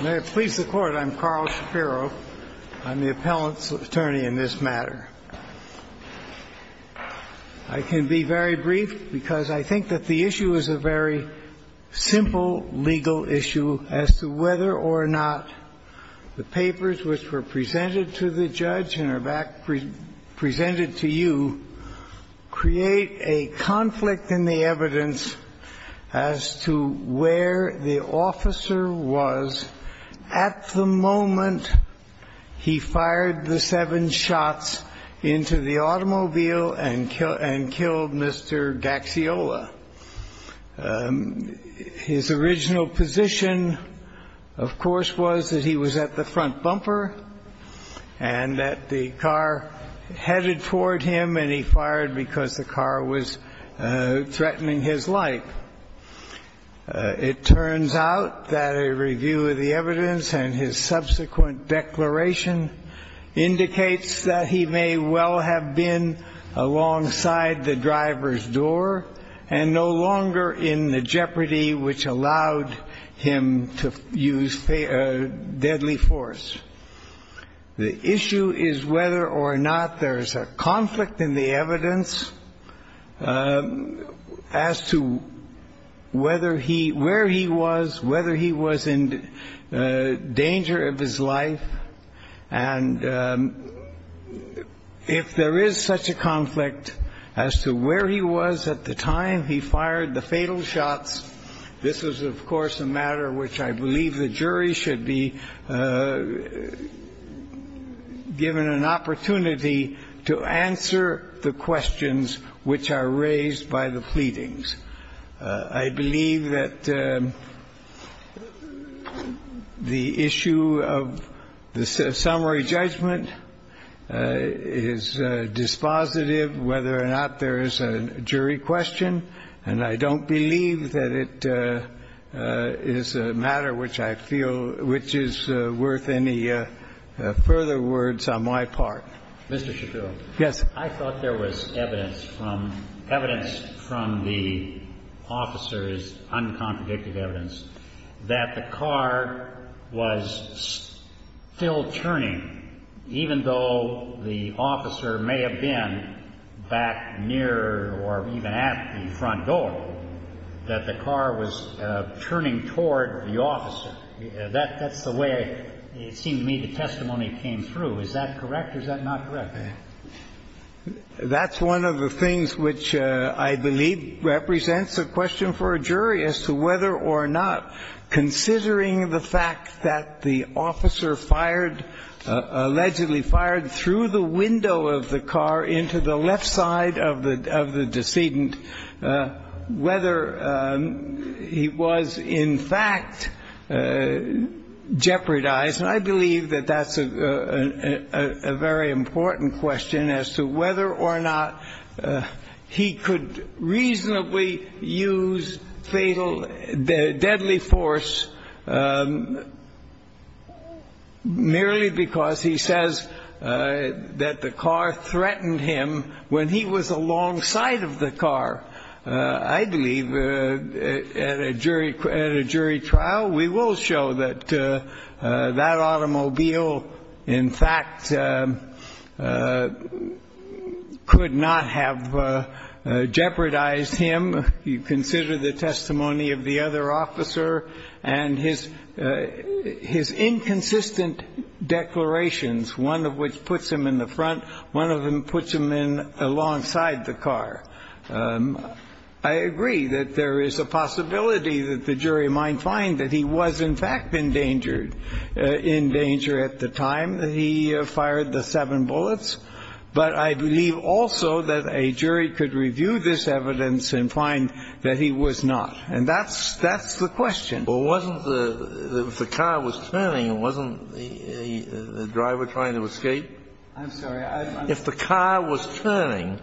May it please the Court, I'm Carl Shapiro. I'm the appellant's attorney in this matter. I can be very brief because I think that the issue is a very simple legal issue as to whether or not the papers which were presented to the judge and are back presented to you create a conflict in the evidence as to where the officer was at the moment he fired the seven shots into the automobile and killed Mr. Gaxiola. His original position, of course, was that he was at the front bumper and that the car headed toward him and he fired because the car was threatening his life. It turns out that a review of the evidence and his subsequent declaration indicates that he may well have been alongside the driver's door and no longer in the jeopardy which allowed him to use deadly force. The issue is whether or not there is a conflict in the evidence as to whether he, where he was, whether he was in danger of his life and if there is such a conflict as to where he was at the time he fired the fatal shots. This is, of course, a matter which I believe the jury should be given an opportunity to answer the questions which are raised by the pleadings. I believe that the issue of the summary judgment is dispositive whether or not there is a jury question, and I don't believe that it is a matter which I feel which is worth any further words on my part. Mr. Shapiro. Yes. I thought there was evidence from, evidence from the officer's uncompredictive evidence that the car was still turning, even though the officer may have been back near or even at the front door, that the car was turning toward the officer. That's the way it seemed to me the testimony came through. Is that correct or is that not correct? That's one of the things which I believe represents a question for a jury as to whether or not, considering the fact that the officer fired, allegedly fired through the window of the car into the left side of the, of the decedent, whether he was in fact jeopardized. And I believe that that's a very important question as to whether or not he could reasonably use fatal, deadly force merely because he says that the car threatened him when he was alongside of the car. I believe at a jury, at a jury trial, we will show that that automobile in fact could not have jeopardized him. You consider the testimony of the other officer and his, his inconsistent declarations, one of which puts him in the front, one of them puts him in alongside the car. I agree that there is a possibility that the jury might find that he was in fact in danger, in danger at the time that he fired the seven bullets. But I believe also that a jury could review this evidence and find that he was not. And that's, that's the question. Well, wasn't the, if the car was turning, wasn't the driver trying to escape? I'm sorry. If the car was turning,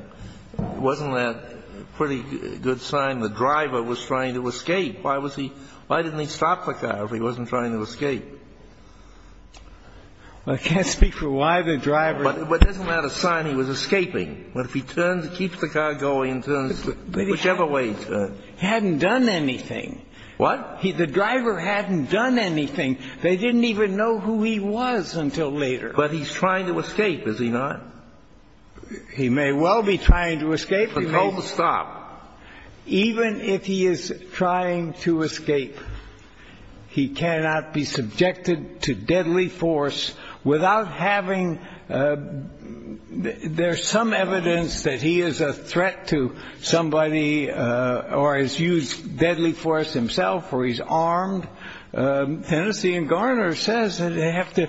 wasn't that a pretty good sign the driver was trying to escape? Why was he, why didn't he stop the car if he wasn't trying to escape? I can't speak for why the driver. But isn't that a sign he was escaping? If he turns, keeps the car going, turns, whichever way he turns. He hadn't done anything. What? The driver hadn't done anything. They didn't even know who he was until later. But he's trying to escape, is he not? He may well be trying to escape. But told to stop. Even if he is trying to escape, he cannot be subjected to deadly force without having, there's some evidence that he is a threat to somebody or has used deadly force himself or he's armed. And that's why Tennessee and Garner says that they have to,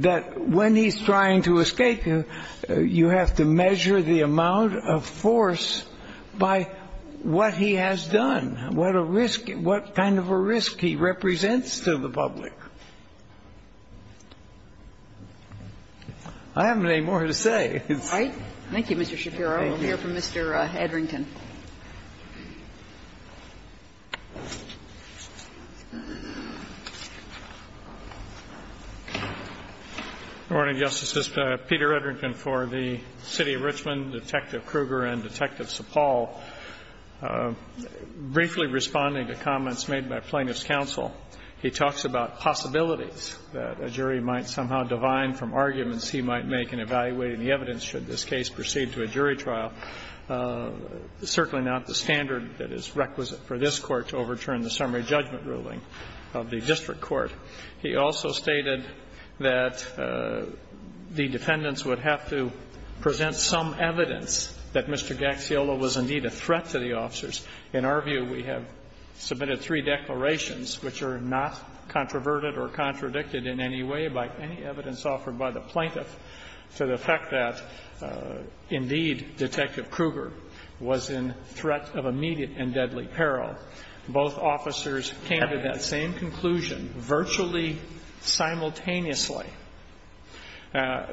that when he's trying to escape, you have to measure the amount of force by what he has done, what a risk, what kind of a risk he represents to the public. I haven't any more to say. Right. Thank you, Mr. Shapiro. We'll hear from Mr. Edrington. Good morning, Justice. This is Peter Edrington for the City of Richmond, Detective Kruger and Detective Sapal. Briefly responding to comments made by plaintiff's counsel, he talks about possibilities that a jury might somehow divine from arguments he might make in evaluating the evidence should this case proceed to a jury trial. I'm not really, I'm certainly not the standard that is requisite for this Court to overturn the summary judgment ruling of the district court. He also stated that the defendants would have to present some evidence that Mr. Gaxiola was indeed a threat to the officers. In our view, we have submitted three declarations which are not controverted or contradicted in any way by any evidence offered by the plaintiff, to the effect that indeed Detective Kruger was in threat of immediate and deadly peril. Both officers came to that same conclusion virtually simultaneously. I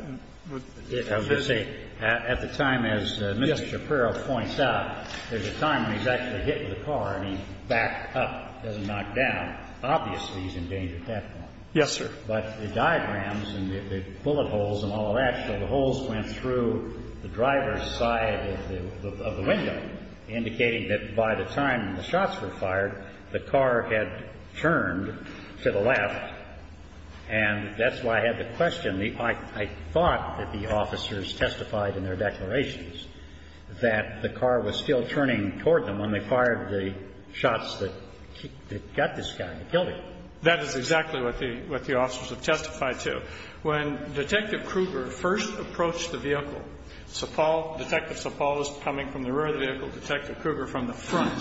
was going to say, at the time, as Mr. Shapiro points out, there's a time when he's actually hitting the car and he's backed up, doesn't knock down. Obviously, he's in danger at that point. Yes, sir. But the diagrams and the bullet holes and all of that, so the holes went through the driver's side of the window, indicating that by the time the shots were fired, the car had turned to the left. And that's why I had the question. I thought that the officers testified in their declarations that the car was still turning toward them when they fired the shots that got this guy and killed him. That is exactly what the officers have testified to. When Detective Kruger first approached the vehicle, Sir Paul, Detective Sir Paul was coming from the rear of the vehicle, Detective Kruger from the front.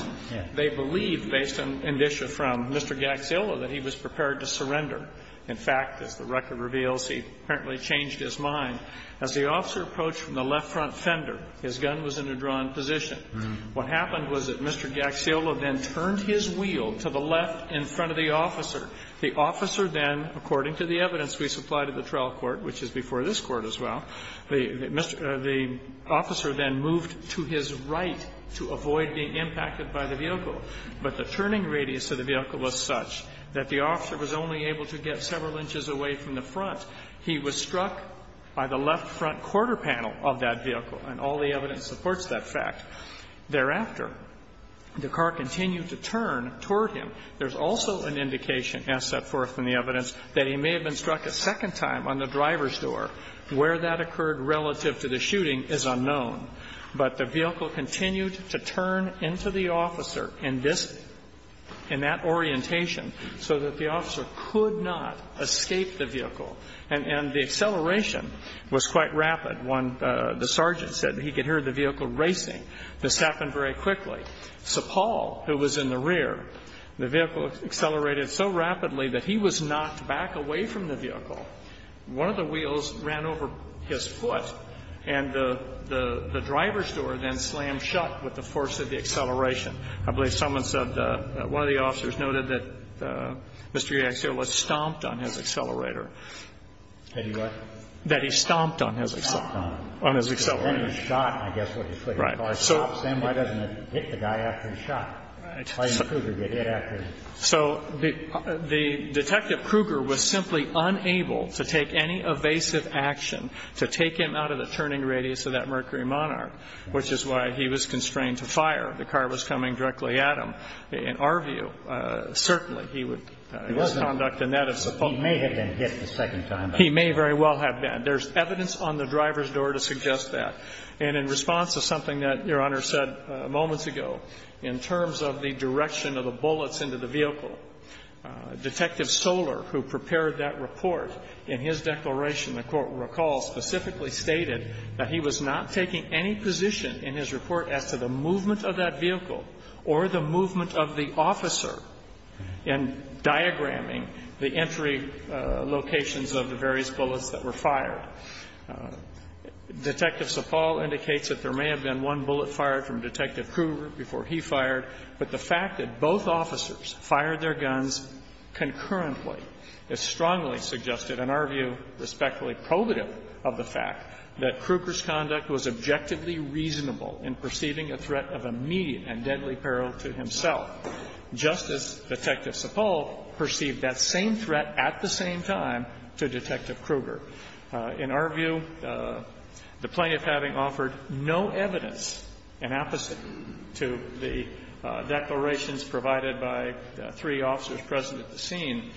They believed, based on indicia from Mr. Gaxiola, that he was prepared to surrender. In fact, as the record reveals, he apparently changed his mind. As the officer approached from the left front fender, his gun was in a drawn position. What happened was that Mr. Gaxiola then turned his wheel to the left in front of the officer. The officer then, according to the evidence we supplied at the trial court, which is before this Court as well, the officer then moved to his right to avoid being impacted by the vehicle. But the turning radius of the vehicle was such that the officer was only able to get several inches away from the front. He was struck by the left front quarter panel of that vehicle. And all the evidence supports that fact. Thereafter, the car continued to turn toward him. There's also an indication, as set forth in the evidence, that he may have been struck a second time on the driver's door. Where that occurred relative to the shooting is unknown. But the vehicle continued to turn into the officer in this, in that orientation so that the officer could not escape the vehicle. And the acceleration was quite rapid. One, the sergeant said he could hear the vehicle racing. This happened very quickly. So Paul, who was in the rear, the vehicle accelerated so rapidly that he was knocked back away from the vehicle. One of the wheels ran over his foot, and the driver's door then slammed shut with the force of the acceleration. I believe someone said, one of the officers noted that Mr. Gaxiola stomped on his accelerator. That he what? He stomped on it. On his accelerator. Then he was shot, and I guess what he said, his car stopped. Then why doesn't it hit the guy after he's shot? Why didn't Kruger get hit after he's shot? So the Detective Kruger was simply unable to take any evasive action to take him out of the turning radius of that Mercury Monarch, which is why he was constrained to fire. The car was coming directly at him. In our view, certainly he would, his conduct in that. He may have been hit the second time. He may very well have been. There's evidence on the driver's door to suggest that. And in response to something that Your Honor said moments ago, in terms of the direction of the bullets into the vehicle, Detective Soler, who prepared that report, in his declaration, the Court recalls, specifically stated that he was not taking any position in his report as to the movement of that vehicle or the movement of the officer in diagramming the entry locations of the various bullets that were fired. Detective Sapal indicates that there may have been one bullet fired from Detective Kruger before he fired, but the fact that both officers fired their guns concurrently is strongly suggested, in our view, respectfully probative of the fact that Kruger's conduct was objectively reasonable in perceiving a threat of immediate and deadly consequences, whereas Detective Sapal perceived that same threat at the same time to Detective Kruger. In our view, the plaintiff having offered no evidence in apposite to the declarations provided by the three officers present at the scene,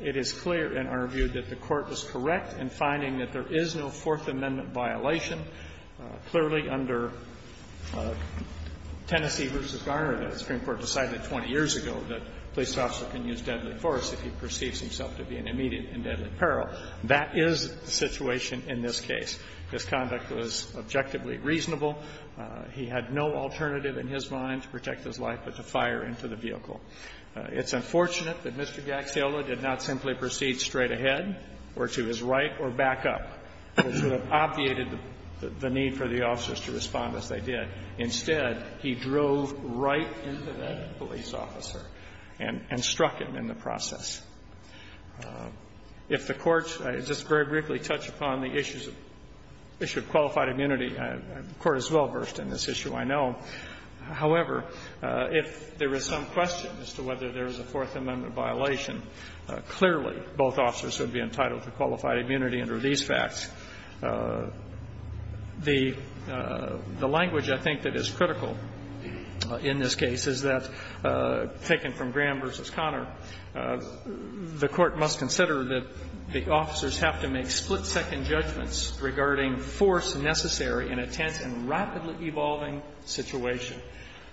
it is clear in our view that the Court was correct in finding that there is no Fourth Amendment violation clearly under Tennessee v. Garner that the Supreme Court decided 20 years ago that police officers can use deadly force if he perceives himself to be an immediate and deadly peril. That is the situation in this case. This conduct was objectively reasonable. He had no alternative in his mind to protect his life but to fire into the vehicle. It's unfortunate that Mr. Gax-Hill did not simply proceed straight ahead or to his right or back up. It would have obviated the need for the officers to respond as they did. Instead, he drove right into that police officer and struck him in the process. If the Court's just very briefly touched upon the issues of qualified immunity, the Court is well-versed in this issue, I know. However, if there is some question as to whether there is a Fourth Amendment violation, clearly both officers would be entitled to qualified immunity under these facts. The language, I think, that is critical in this case is that, taken from Graham v. Connor, the Court must consider that the officers have to make split-second judgments regarding force necessary in a tense and rapidly evolving situation.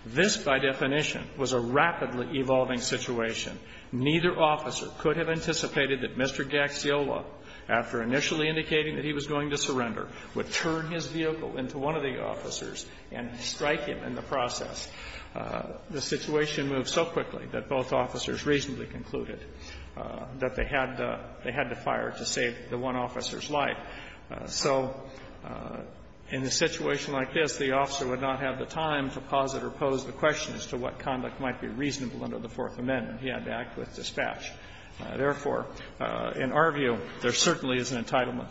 This, by definition, was a rapidly evolving situation. Neither officer could have anticipated that Mr. Gax-Hill, after initially indicating that he was going to surrender, would turn his vehicle into one of the officers and strike him in the process. The situation moved so quickly that both officers reasonably concluded that they had to fire to save the one officer's life. So in a situation like this, the officer would not have the time to pause it or pose the question as to what conduct might be reasonable under the Fourth Amendment. He had to act with dispatch. Therefore, in our view, there certainly is an entitlement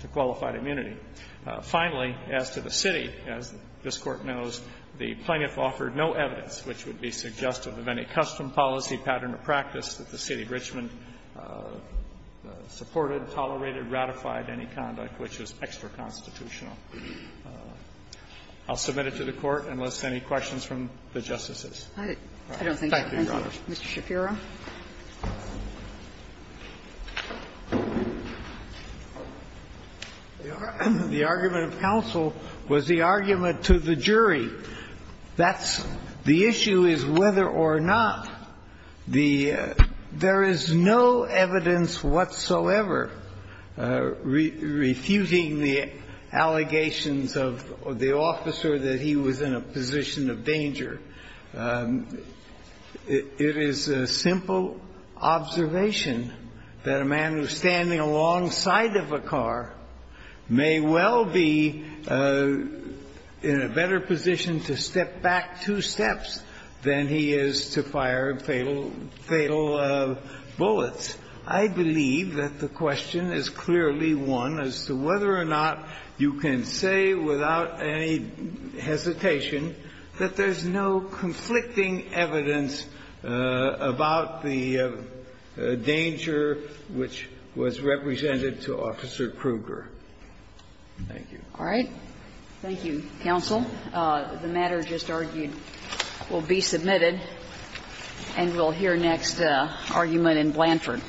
to qualified immunity. Finally, as to the city, as this Court knows, the plaintiff offered no evidence which would be suggestive of any custom, policy, pattern, or practice that the City of Richmond supported, tolerated, ratified any conduct which was extra constitutional. I'll submit it to the Court, unless any questions from the Justices. Thank you, Your Honors. Ms. Shapiro. Shapiro, the argument of counsel was the argument to the jury. That's the issue is whether or not the – there is no evidence whatsoever refuting the allegations of the officer that he was in a position of danger. It is a simple observation that a man who is standing alongside of a car may well be in a better position to step back two steps than he is to fire fatal bullets. I believe that the question is clearly one as to whether or not you can say without any hesitation that there's no conflicting evidence about the danger which was represented to Officer Kruger. Thank you. All right. Thank you, counsel. The matter just argued will be submitted, and we'll hear next argument in Blanford.